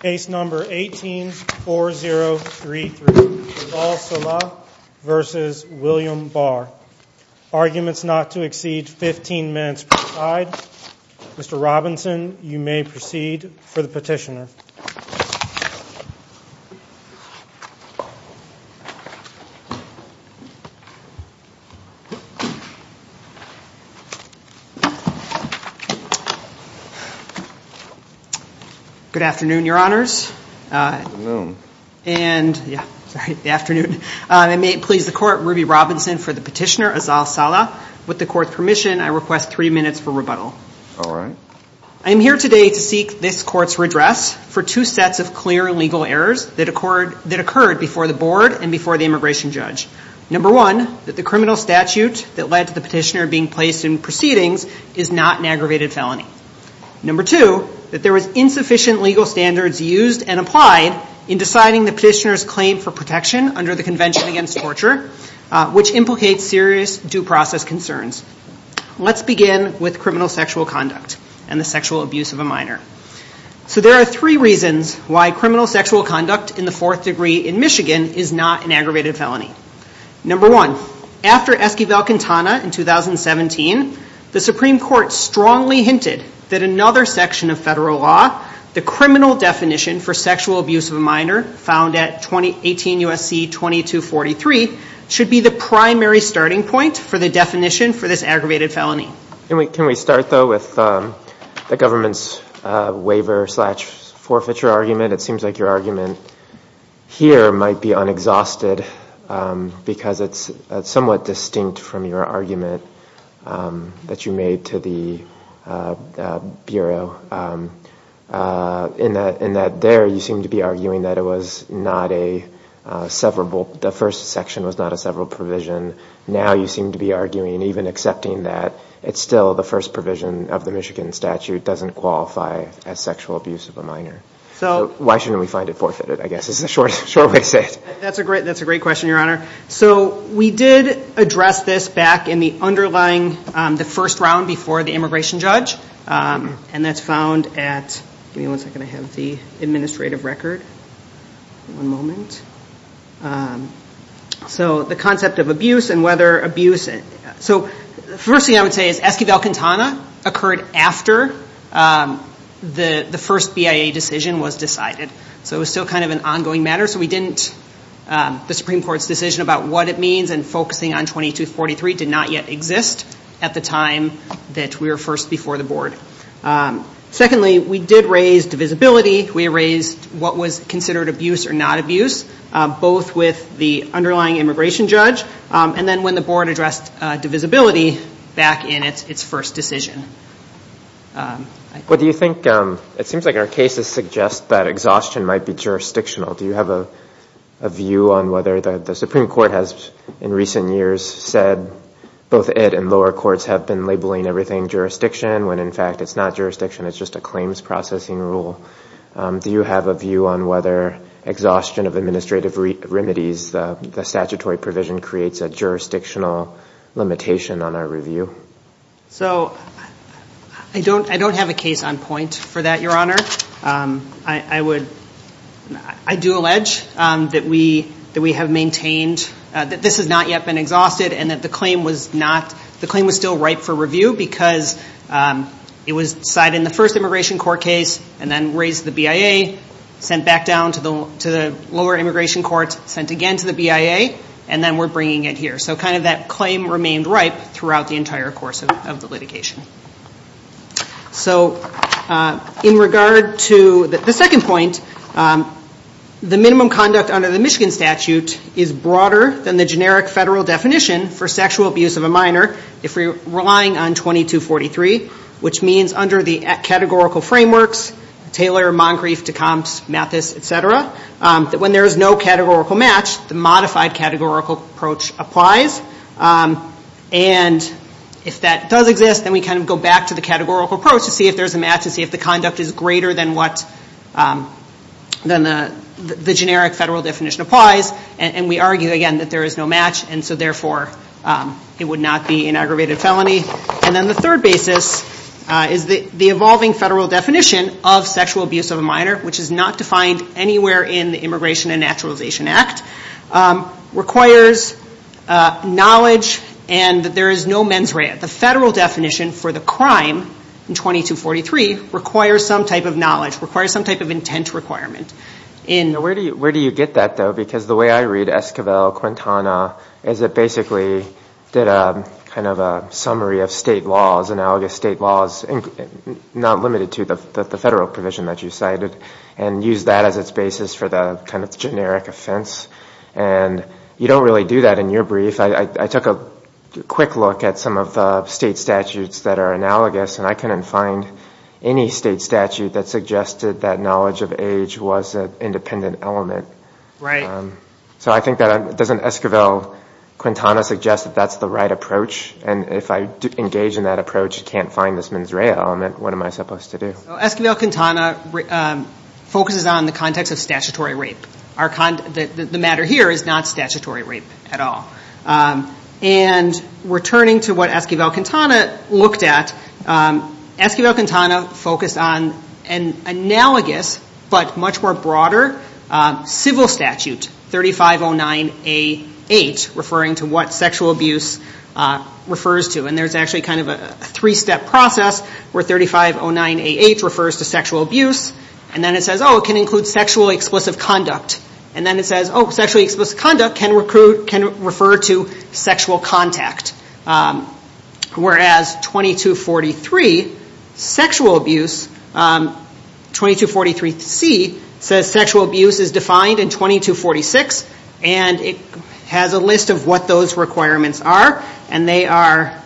Case number 18-4033, Azal Saleh v. William Barr. Arguments not to exceed 15 minutes per side. Mr. Robinson, you may proceed for the petitioner. Good afternoon, your honors. Good noon. And yeah, sorry, the afternoon. I may please the court, Ruby Robinson for the petitioner, Azal Saleh. With the court's permission, I request three minutes for rebuttal. All right. I am here today to seek this court's redress for two sets of clear legal errors that occurred before the board and before the immigration judge. Number one, that the criminal statute that led to the petitioner being placed in proceedings is not an aggravated felony. Number two, that there was insufficient legal standards used and applied in deciding the petitioner's claim for protection under the Convention Against Torture, which implicates serious due process concerns. Let's begin with criminal sexual conduct and the sexual abuse of a minor. So there are three reasons why criminal sexual conduct in the fourth degree in Michigan is not an aggravated felony. Number one, after Esquivel-Quintana in 2017, the Supreme Court strongly hinted that another section of federal law, the criminal definition for sexual abuse of a minor, found at 2018 USC 2243, should be the primary starting point for the definition for this aggravated felony. Can we start, though, with the government's waiver slash forfeiture argument? It seems like your argument here might be unexhausted, because it's somewhat distinct from your argument that you made to the Bureau, in that there, you seem to be arguing that the first section was not a severable provision. Now you seem to be arguing, even accepting that it's still the first provision of the Michigan statute doesn't qualify as sexual abuse of a minor. Why shouldn't we find it forfeited, I guess, is the short way to say it. That's a great question, Your Honor. So we did address this back in the underlying, the first round before the immigration judge. And that's found at, give me one second, I have the administrative record. One moment. So the concept of abuse and whether abuse, so the first thing I would say is Esquivel-Quintana occurred after the first BIA decision was decided. So it was still kind of an ongoing matter. So we didn't, the Supreme Court's decision about what it means and focusing on 2243 did not yet exist at the time that we were first before the board. Secondly, we did raise divisibility. We raised what was considered abuse or not abuse, both with the underlying immigration judge and then when the board addressed divisibility back in its first decision. But do you think, it seems like our cases suggest that exhaustion might be jurisdictional. Do you have a view on whether the Supreme Court has, in recent years, said both it and lower courts have been labeling everything jurisdiction when, in fact, it's not jurisdiction. It's just a claims processing rule. Do you have a view on whether exhaustion of administrative remedies, the statutory provision, creates a jurisdictional limitation on our review? So I don't have a case on point for that, Your Honor. I would, I do allege that we have maintained that this has not yet been exhausted and that the claim was not, the claim was still ripe for review because it was decided in the first immigration court case and then raised the BIA, sent back down to the lower immigration court, sent again to the BIA, and then we're bringing it here. So kind of that claim remained ripe throughout the entire course of the litigation. So in regard to the second point, the minimum conduct under the Michigan statute is broader than the generic federal definition for sexual abuse of a minor if we're relying on 2243, which means under the categorical frameworks, Taylor, Moncrief, Decombs, Mathis, et cetera, that when there is no categorical match, the modified categorical approach applies. And if that does exist, then we kind of go back to the categorical approach to see if there's a match to see if the conduct is greater than what the generic federal definition applies. And we argue, again, that there is no match. And so therefore, it would not be an aggravated felony. And then the third basis is the evolving federal definition of sexual abuse of a minor, which is not defined anywhere in the Immigration and Naturalization Act, requires knowledge and that there is no mens rea. The federal definition for the crime in 2243 requires some type of knowledge, requires some type of intent requirement. Where do you get that, though? Because the way I read Esquivel-Quintana is it basically did a kind of a summary of state laws, analogous state laws, not limited to the federal provision that you cited, and used that as its basis for the kind of generic offense. And you don't really do that in your brief. I took a quick look at some of the state statutes that are analogous. And I couldn't find any state statute that suggested that knowledge of age was an independent element. So I think that doesn't Esquivel-Quintana suggest that that's the right approach? And if I engage in that approach, can't find this mens rea element, what am I supposed to do? Esquivel-Quintana focuses on the context of statutory rape. The matter here is not statutory rape at all. And returning to what Esquivel-Quintana looked at, Esquivel-Quintana focused on an analogous but much more broader civil statute, 3509A8, referring to what sexual abuse refers to. And there's actually kind of a three-step process where 3509A8 refers to sexual abuse. And then it says, oh, it can include sexually explicit conduct. And then it says, oh, sexually explicit conduct can refer to sexual contact. Whereas 2243, sexual abuse, 2243C, says sexual abuse is defined in 2246. And it has a list of what those requirements are. And they are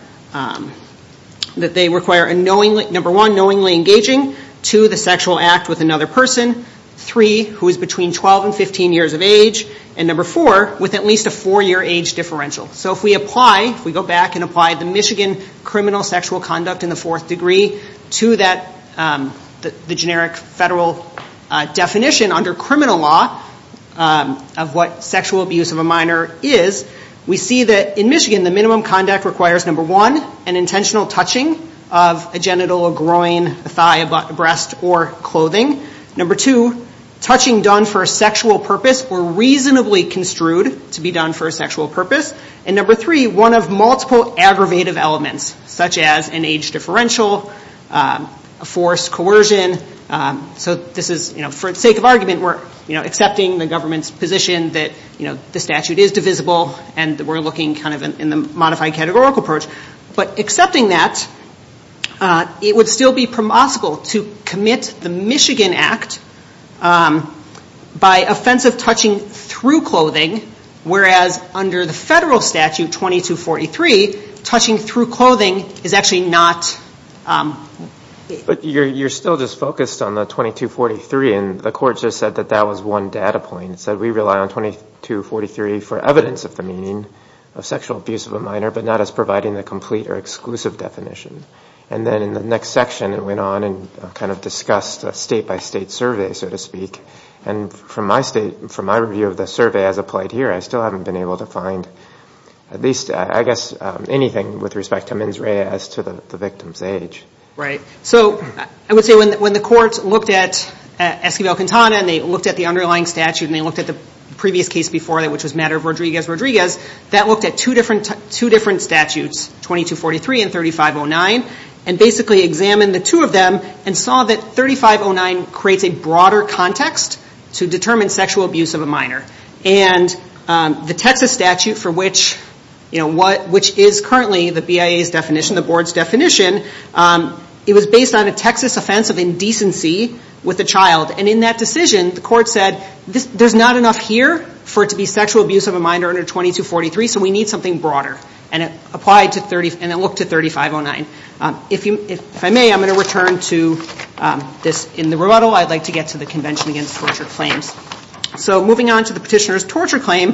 that they require, number one, knowingly engaging, two, the sexual act with another person, three, who is between 12 and 15 years of age, and number four, with at least a four-year age differential. So if we apply, if we go back and apply the Michigan criminal sexual conduct in the fourth degree to the generic federal definition under criminal law of what sexual abuse of a minor is, we see that in Michigan, the minimum conduct requires, number one, an intentional touching of a genital, a groin, a thigh, a butt, a breast, or clothing. Number two, touching done for a sexual purpose or reasonably construed to be done for a sexual purpose. And number three, one of multiple aggravative elements, such as an age differential, a forced coercion. So this is, for the sake of argument, we're accepting the government's position that the statute is divisible. And we're looking kind of in the modified categorical approach. But accepting that, it would still be permissible to commit the Michigan Act by offensive touching through clothing, whereas under the federal statute, 2243, touching through clothing is actually not. But you're still just focused on the 2243. And the court just said that that was one data point. It said we rely on 2243 for evidence of the meaning of sexual abuse of a minor, but not as providing the complete or exclusive definition. And then in the next section, it went on and kind of discussed a state by state survey, so to speak. And from my review of the survey as applied here, I still haven't been able to find at least, I guess, anything with respect to mens rea as to the victim's age. Right. So I would say when the courts looked at Esquivel-Quintana and they looked at the underlying statute and they looked at the previous case before that, which was Matter of Rodriguez-Rodriguez, that looked at two different statutes, 2243 and 3509, and basically examined the two of them and saw that 3509 creates a broader context to determine sexual abuse of a minor. And the Texas statute, which is currently the BIA's definition, the board's definition, it was based on a Texas offense of indecency with a child. And in that decision, the court said, there's not enough here for it to be sexual abuse of a minor under 2243, so we need something broader. And it looked at 3509. If I may, I'm going to return to this in the rebuttal. I'd like to get to the Convention Against Torture Claims. So moving on to the petitioner's torture claim,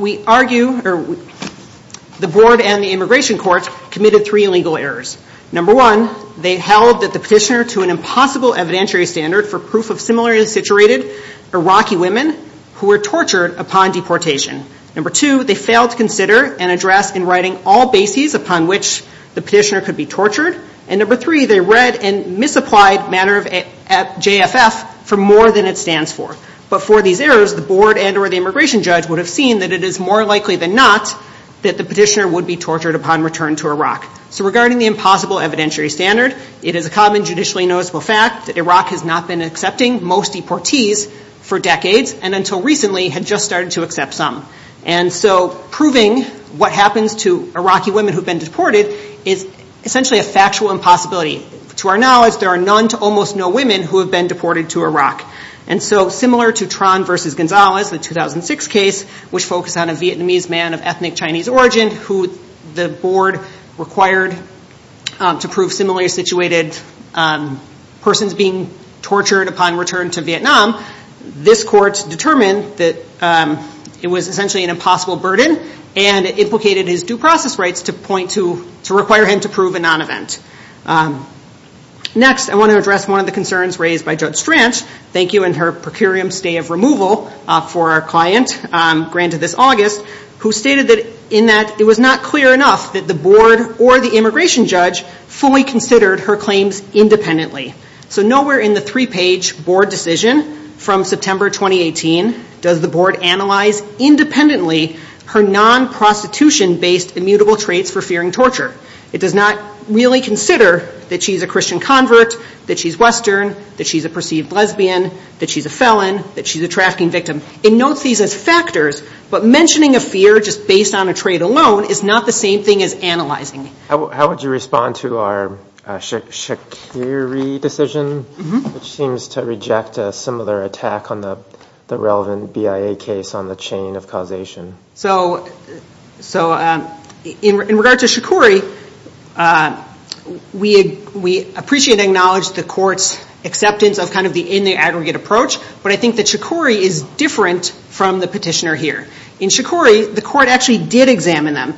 we argue the board and the immigration court committed three illegal errors. Number one, they held that the petitioner to an impossible evidentiary standard for proof of similarly situated Iraqi women who were tortured upon deportation. Number two, they failed to consider and address in writing all bases upon which the petitioner could be tortured. And number three, they read and misapplied matter of JFF for more than it stands for. But for these errors, the board and or the immigration judge would have seen that it is more likely than not that the petitioner would be tortured upon return to Iraq. So regarding the impossible evidentiary standard, it is a common judicially noticeable fact that Iraq has not been accepting most deportees for decades and until recently had just started to accept some. And so proving what happens to Iraqi women who've been deported is essentially a factual impossibility. To our knowledge, there are none to almost no women who have been deported to Iraq. And so similar to Tran versus Gonzalez, the 2006 case, which focused on a Vietnamese man of ethnic Chinese origin who the board required to prove similarly situated persons being tortured upon return to Vietnam, this court determined that it was essentially an impossible burden and implicated his due process rights to point to to require him to prove a non-event. Next, I want to address one of the concerns raised by Judge Stranch. Thank you and her procurium stay of removal for our client granted this August, who stated that in that it was not clear enough that the board or the immigration judge fully considered her claims independently. So nowhere in the three-page board decision from September 2018 does the board analyze independently her non-prostitution-based immutable traits for fearing torture. It does not really consider that she's a Christian convert, that she's Western, that she's a perceived lesbian, that she's a felon, that she's a trafficking victim. It notes these as factors, but mentioning a fear just based on a trait alone is not the same thing as analyzing it. How would you respond to our Shaqiri decision, which seems to reject a similar attack on the relevant BIA case on the chain of causation? So in regard to Shaqiri, we appreciate and acknowledge the court's acceptance of the in the aggregate approach, but I think that Shaqiri is different from the petitioner here. In Shaqiri, the court actually did examine them,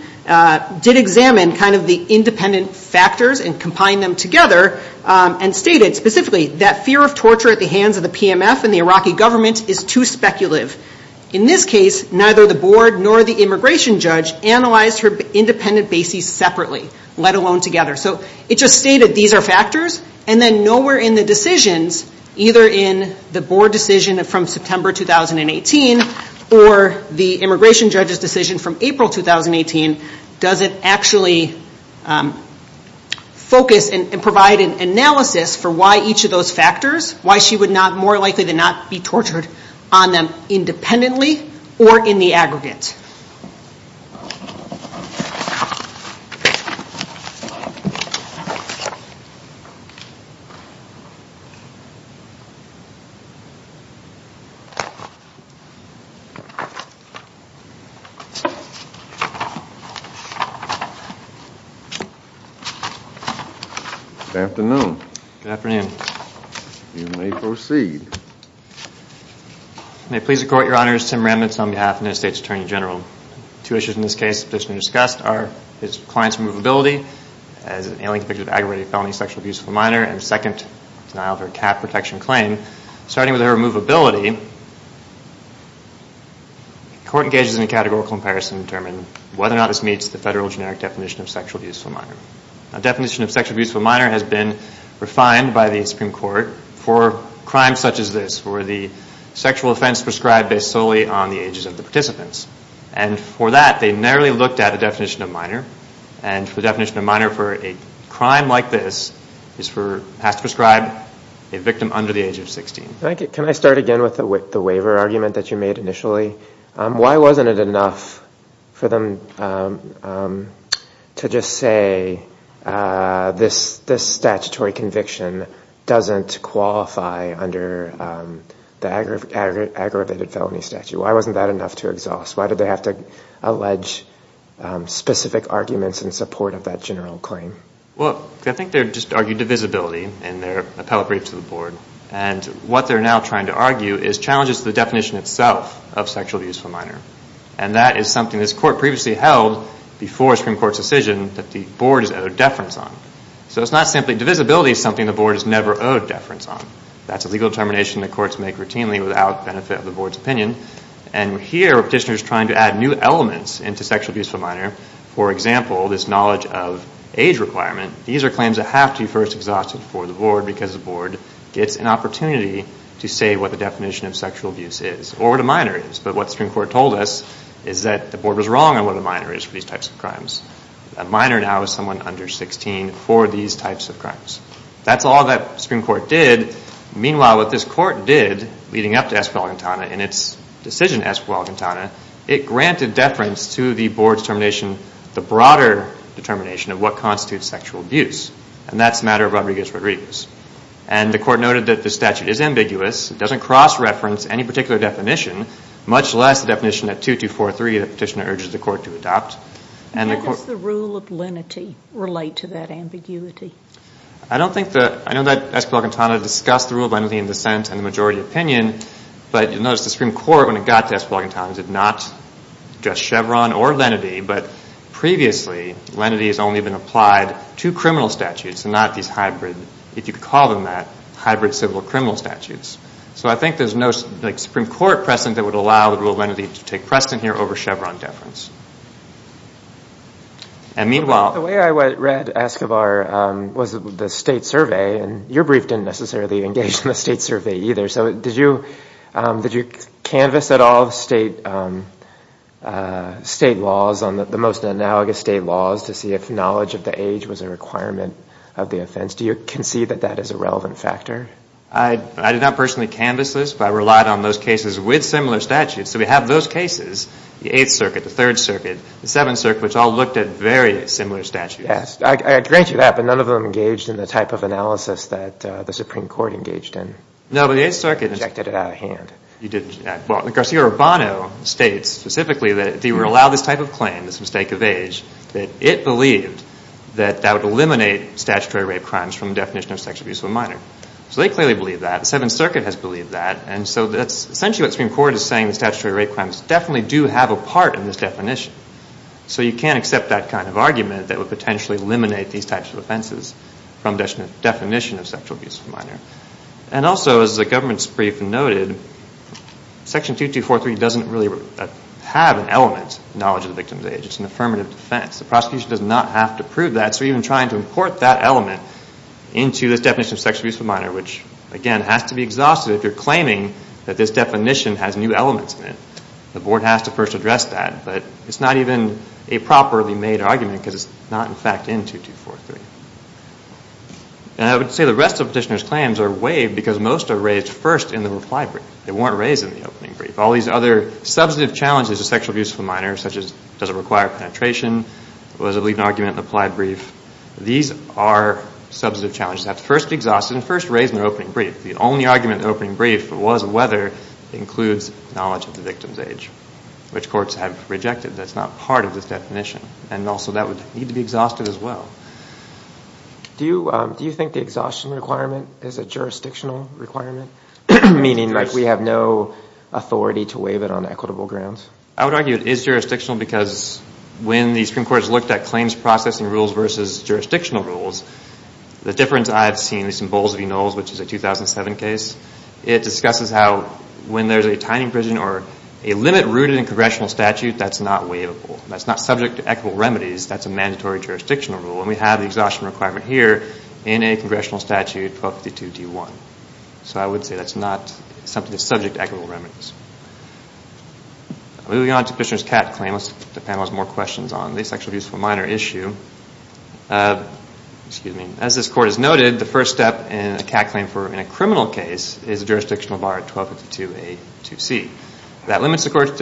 did examine the independent factors and combine them together, and stated specifically that fear of torture at the hands of the PMF and the Iraqi government is too speculative. In this case, neither the board nor the immigration judge analyzed her independent bases separately, let alone together. So it just stated these are factors, and then nowhere in the decisions, either in the board decision from September 2018 or the immigration judge's decision from April 2018, does it actually focus and provide an analysis for why each of those factors, why she would more likely than not be tortured on them independently or in the aggregate. Thank you. Good afternoon. Good afternoon. You may proceed. May it please the court, Your Honor, it's Tim Remnitz on behalf of the United States Attorney General. Two issues in this case that's been discussed are his client's movability as an alien convicted aggravated felony sexual abuse of a minor, and second, denial of her cat protection claim. Starting with her movability, the court engages in a categorical comparison to determine whether or not this meets the federal generic definition of sexual abuse of a minor. A definition of sexual abuse of a minor has been refined by the Supreme Court for crimes such as this, for the sexual offense prescribed based solely on the ages of the participants. And for that, they narrowly looked at a definition of minor. And for the definition of minor for a crime like this has to prescribe a victim under the age of 16. Can I start again with the waiver argument that you made initially? Why wasn't it enough for them to just say this statutory conviction doesn't qualify under the aggravated felony statute? Why wasn't that enough to exhaust? Why did they have to allege specific arguments in support of that general claim? Well, I think they're just arguing divisibility in their appellate brief to the board. And what they're now trying to argue is challenges to the definition itself of sexual abuse of a minor. And that is something this court previously held before Supreme Court's decision that the board is owed deference on. So it's not simply divisibility is something the board is never owed deference on. That's a legal determination the courts make routinely without benefit of the board's opinion. And here, petitioners are trying to add new elements into sexual abuse of a minor. For example, this knowledge of age requirement. These are claims that have to be first exhausted for the board because the board gets an opportunity to say what the definition of sexual abuse is, or what a minor is. But what Supreme Court told us is that the board was wrong on what a minor is for these types of crimes. A minor now is someone under 16 for these types of crimes. That's all that Supreme Court did. Meanwhile, what this court did leading up to Esquivel-Gantana and its decision, Esquivel-Gantana, it granted deference to the board's determination, the broader determination, of what constitutes sexual abuse. And that's a matter of Rodriguez-Rodriguez. And the court noted that the statute is ambiguous. It doesn't cross-reference any particular definition, much less the definition at 2243 that the petitioner urges the court to adopt. And the court- How does the rule of lenity relate to that ambiguity? I don't think that- I know that Esquivel-Gantana discussed the rule of lenity in dissent and the majority opinion. But you'll notice the Supreme Court, when it got to Esquivel-Gantana, did not address Chevron or lenity. But previously, lenity has only been applied to criminal statutes and not these hybrid, if you could call them that, hybrid civil criminal statutes. So I think there's no Supreme Court precedent that would allow the rule of lenity to take precedent here over Chevron deference. And meanwhile- The way I read Esquivel-Gantana was the state survey. And your brief didn't necessarily engage in the state survey either. So did you canvass at all the state laws, on the most analogous state laws, to see if knowledge of the age was a requirement of the offense? Do you concede that that is a relevant factor? I did not personally canvass this. But I relied on those cases with similar statutes. So we have those cases, the Eighth Circuit, the Third Circuit, the Seventh Circuit, which all looked at very similar statutes. I grant you that. But none of them engaged in the type of analysis that the Supreme Court engaged in. No, but the Eighth Circuit- Injected it out of hand. You did. Well, Garcia Urbano states specifically that if you were to allow this type of claim, this mistake of age, that it believed that that would eliminate statutory rape crimes from the definition of sexual abuse of a minor. So they clearly believe that. The Seventh Circuit has believed that. And so that's essentially what Supreme Court is saying, that statutory rape crimes definitely do have a part in this definition. So you can't accept that kind of argument that would potentially eliminate these types of offenses from the definition of sexual abuse of a minor. And also, as the government's brief noted, Section 2243 doesn't really have an element of knowledge of the victim's age. It's an affirmative defense. The prosecution does not have to prove that. So even trying to import that element into this definition of sexual abuse of a minor, which, again, has to be exhausted if you're claiming that this definition has new elements in it. The board has to first address that. But it's not even a properly made argument, because it's not, in fact, in 2243. And I would say the rest of the petitioner's claims are waived, because most are raised first in the reply brief. They weren't raised in the opening brief. All these other substantive challenges of sexual abuse of a minor, such as does it require penetration, was it an argument in the reply brief, these are substantive challenges. They have to first be exhausted and first raised in the opening brief. The only argument in the opening brief was whether it includes knowledge of the victim's age, which courts have rejected. That's not part of this definition. And also, that would need to be exhausted as well. Do you think the exhaustion requirement is a jurisdictional requirement, meaning we have no authority to waive it on equitable grounds? I would argue it is jurisdictional, because when the Supreme Court has looked at claims processing rules versus jurisdictional rules, the difference I've seen is in Boles v. Knowles, which is a 2007 case. It discusses how, when there's a tiny prison or a limit rooted in congressional statute, that's not waivable. That's not subject to equitable remedies. That's a mandatory jurisdictional rule. And we have the exhaustion requirement here in a congressional statute, 1252 D1. So I would say that's not something that's subject to equitable remedies. Moving on to Fishner's Catt claim, let's get the panelists more questions on the sexual abuse for minor issue. Excuse me. As this court has noted, the first step in a Catt claim in a criminal case is a jurisdictional bar at 1252 A2C. That limits the court's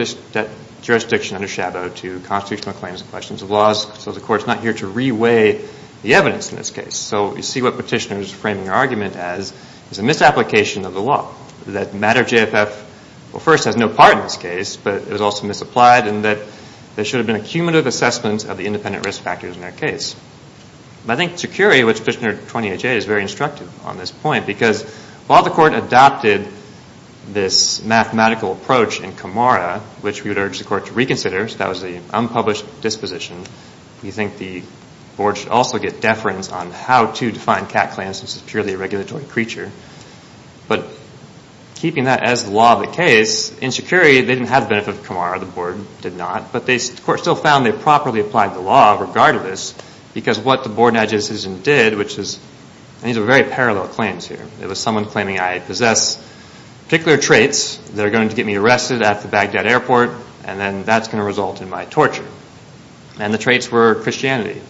jurisdiction under Shabo to constitutional claims and questions of laws. So the court's not here to reweigh the evidence in this case. So you see what Petitioner's framing argument as is a misapplication of the law, that matter of JFF, well, first, has no part in this case. But it was also misapplied in that there should have been a cumulative assessment of the independent risk factors in their case. I think Tsukuri, which Petitioner 20HA'd, is very instructive on this point. Because while the court adopted this mathematical approach in Camara, which we would urge the court to reconsider, that was the unpublished disposition, we think the board should also get deference on how to define Catt claims since it's purely a regulatory creature. But keeping that as the law of the case, in Tsukuri, they didn't have the benefit of Camara. The board did not. But the court still found they properly applied the law regardless. Because what the board and adjudicator did, which is, these are very parallel claims here. It was someone claiming I possess particular traits that are going to get me arrested at the Baghdad airport. And then that's going to result in my torture. And the traits were Christianity.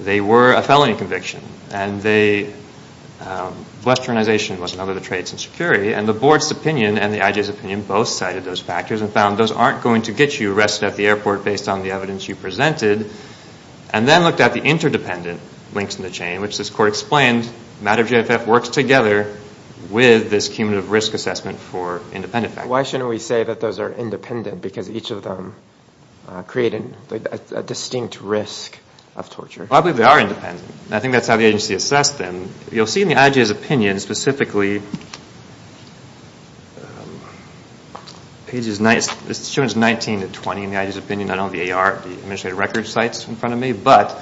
They were a felony conviction. And Westernization was another of the traits in Tsukuri. And the board's opinion and the IJ's opinion both cited those factors and found those aren't going to get you arrested at the airport based on the evidence you presented. And then looked at the interdependent links in the chain, which this court explained, matter of GFF works together with this cumulative risk assessment for independent factors. Why shouldn't we say that those are independent? Because each of them create a distinct risk of torture. Well, I believe they are independent. I think that's how the agency assessed them. You'll see in the IJ's opinion, specifically, pages 19 to 20 in the IJ's opinion. I don't have the AR, the administrative records sites in front of me. But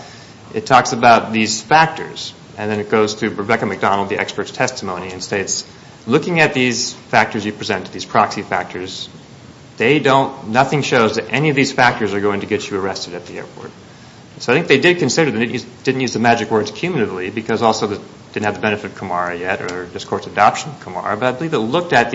it talks about these factors. And then it goes through Rebecca McDonald, the expert's testimony, and states, looking at these factors you present, these proxy factors, they don't, nothing shows that any of these factors are going to get you arrested at the airport. So I think they did consider them. Didn't use the magic words cumulatively, because also they didn't have the benefit of Camara yet, or this court's adoption of Camara. But I believe it looked at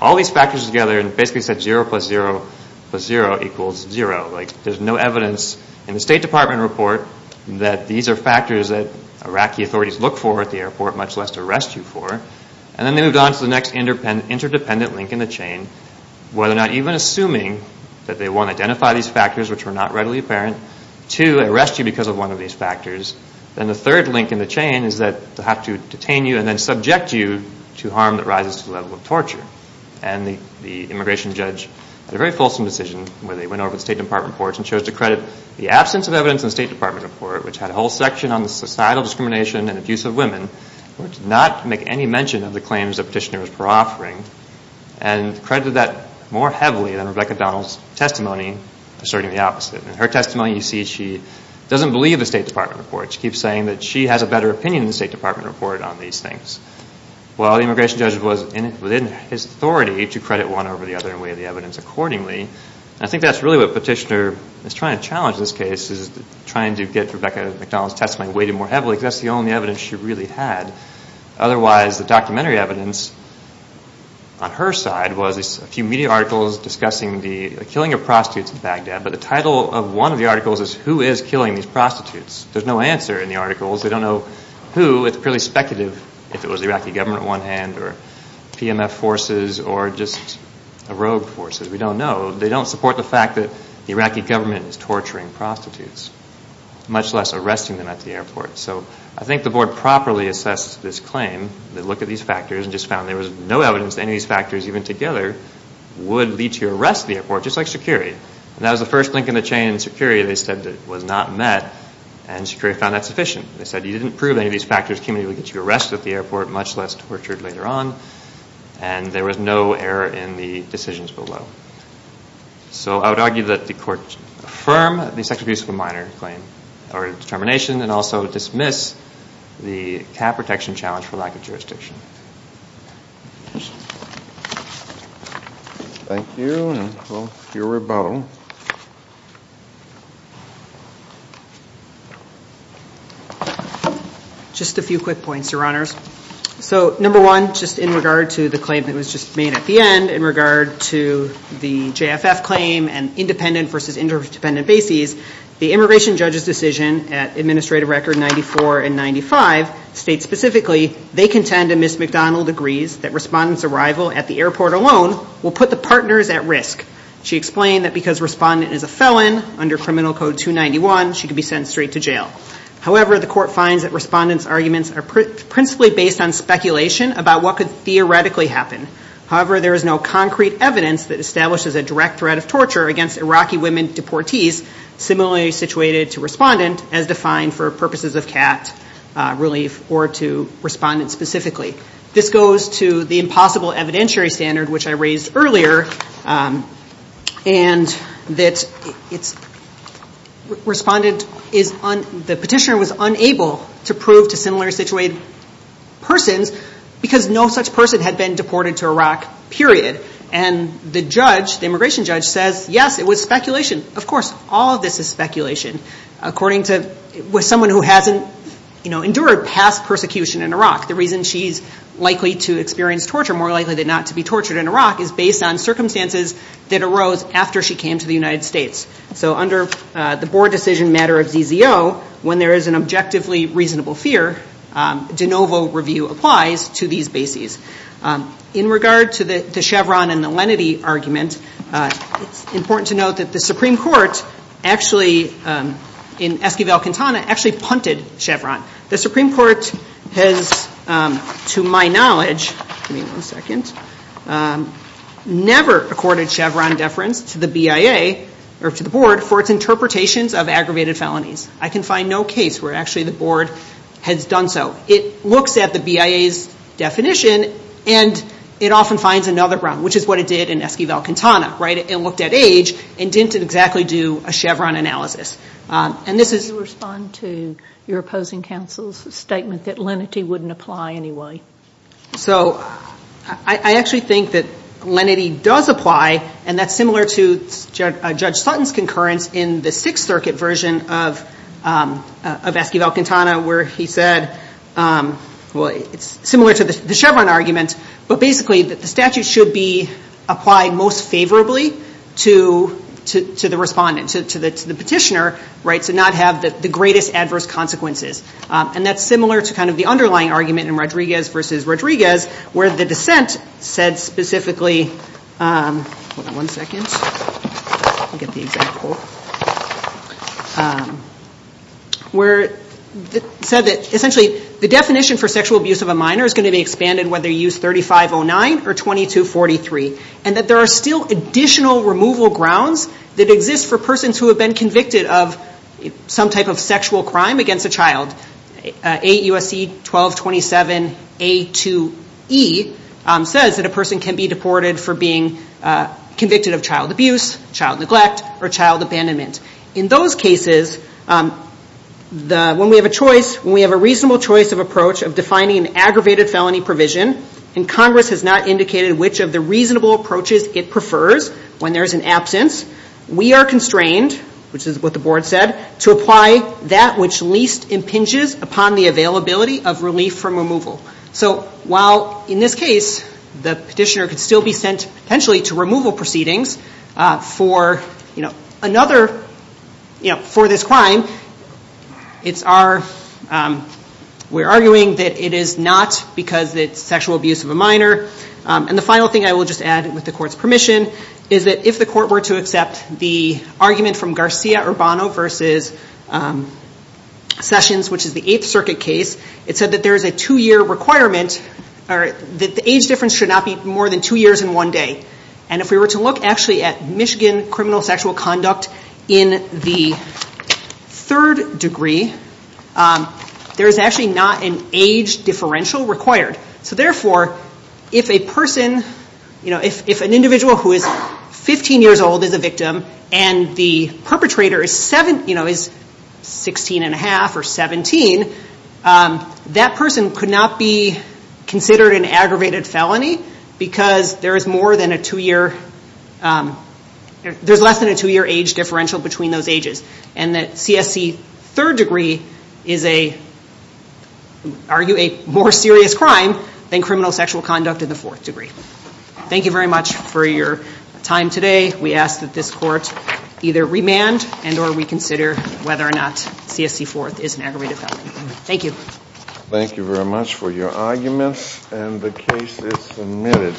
all these factors together and basically said 0 plus 0 plus 0 equals 0. Like, there's no evidence in the State Department report that these are factors that Iraqi authorities look for at the airport, much less to arrest you for. And then they moved on to the next interdependent link in the chain, where they're not even assuming that they, one, identify these factors, which were not readily apparent. Two, arrest you because of one of these factors. And the third link in the chain is that they'll have to detain you and then subject you to harm that rises to the level of torture. And the immigration judge had a very fulsome decision where they went over the State Department reports and chose to credit the absence of evidence in the State Department report, which had a whole section on the societal discrimination and abuse of women, where it did not make any mention of the claims that petitioners were offering. And credited that more heavily than Rebecca McDonald's testimony asserting the opposite. In her testimony, you see she doesn't believe the State Department report. She keeps saying that she has a better opinion in the State Department report on these things. Well, the immigration judge was within his authority to credit one over the other and weigh the evidence accordingly. And I think that's really what Petitioner is trying to challenge this case, is trying to get Rebecca McDonald's testimony weighted more heavily, because that's the only evidence she really had. Otherwise, the documentary evidence on her side was a few media articles discussing the killing of prostitutes in Baghdad. But the title of one of the articles is, who is killing these prostitutes? There's no answer in the articles. They don't know who. It's purely speculative if it was the Iraqi government at one hand, or PMF forces, or just rogue forces. We don't know. They don't support the fact that the Iraqi government is torturing prostitutes, much less arresting them at the airport. So I think the board properly assessed this claim. They looked at these factors and just found there was no evidence that any of these factors, even together, would lead to arrest at the airport, just like Sikiri. And that was the first link in the chain in Sikiri they said that was not met. And Sikiri found that sufficient. They said, you didn't prove any of these factors can really get you arrested at the airport, much less tortured later on. And there was no error in the decisions below. So I would argue that the court affirm the sexual abuse of a minor claim, or determination, and also dismiss the cap protection challenge for lack of jurisdiction. Thank you. And we'll hear from Bo. Just a few quick points, Your Honors. So number one, just in regard to the claim that was just made at the end, in regard to the JFF claim and independent versus interdependent bases, the immigration judge's decision at Administrative Record 94 and 95 states specifically, they contend and Ms. McDonald agrees that respondent's arrival at the airport alone will put the partners at risk. She explained that because respondent is a felon, under criminal code 291, she could be sent straight to jail. However, the court finds that respondent's arguments are principally based on speculation about what could theoretically happen. However, there is no concrete evidence that establishes a direct threat of torture against Iraqi women deportees similarly situated to respondent, as defined for purposes of CAT relief or to respondent specifically. This goes to the impossible evidentiary standard, which I raised earlier, and that the petitioner was unable to prove to similarly situated persons because no such person had been deported to Iraq, period. And the judge, the immigration judge, says, yes, it was speculation. Of course, all of this is speculation. According to someone who hasn't endured past persecution in Iraq, the reason she's likely to experience torture, more likely than not to be tortured in Iraq, is based on circumstances that arose after she came to the United States. So under the board decision matter of ZZO, when there is an objectively reasonable fear, de novo review applies to these bases. In regard to the Chevron and the Lenity argument, it's important to note that the Supreme Court actually, in Esquivel-Quintana, actually punted Chevron. The Supreme Court has, to my knowledge, never accorded Chevron deference to the BIA or to the board for its interpretations of aggravated felonies. I can find no case where actually the board has done so. It looks at the BIA's definition, and it often finds another wrong, which is what it did in Esquivel-Quintana. It looked at age, and didn't exactly do a Chevron analysis. And this is- Do you respond to your opposing counsel's statement that Lenity wouldn't apply anyway? So I actually think that Lenity does apply, and that's similar to Judge Sutton's concurrence in the Sixth Circuit version of Esquivel-Quintana, where he said, well, it's similar to the Chevron argument, but basically that the statute should be applied most favorably to the respondent, to the petitioner, to not have the greatest adverse consequences. And that's similar to the underlying argument in Rodriguez versus Rodriguez, where the dissent said specifically- hold on one second, let me get the example- where it said that, essentially, the definition for sexual abuse of a minor is going to be expanded whether you use 3509 or 2243. And that there are still additional removal grounds that exist for persons who have been convicted of some type of sexual crime against a child. AUSC 1227A2E says that a person can be deported for being convicted of child abuse, child neglect, or child abandonment. In those cases, when we have a reasonable choice of approach of defining an aggravated felony provision, and Congress has not indicated which of the reasonable approaches it prefers when there is an absence, we are constrained, which is what the board said, to apply that which least impinges upon the availability of relief from removal. So while, in this case, the petitioner could still be sent, potentially, to removal proceedings for this crime, it's our- we're arguing that it is not, because it's sexual abuse of a minor. And the final thing I will just add, with the court's permission, is that if the court were to accept the argument from Garcia Urbano versus Sessions, which is the Eighth Circuit case, it said that there is a two-year requirement, or that the age difference should not be more than two years in one day. And if we were to look, actually, at Michigan criminal sexual conduct in the third degree, there is actually not an age differential required. So therefore, if a person, if an individual who is 15 years old is a victim, and the perpetrator is 16 and 1 half or 17, that person could not be considered an aggravated felony because there is less than a two-year age differential between those ages. And that CSC third degree is, I argue, a more serious crime than criminal sexual conduct in the fourth degree. Thank you very much for your time today. We ask that this court either remand, and or reconsider whether or not CSC fourth is an aggravated felony. Thank you. Thank you very much for your arguments. And the case is submitted.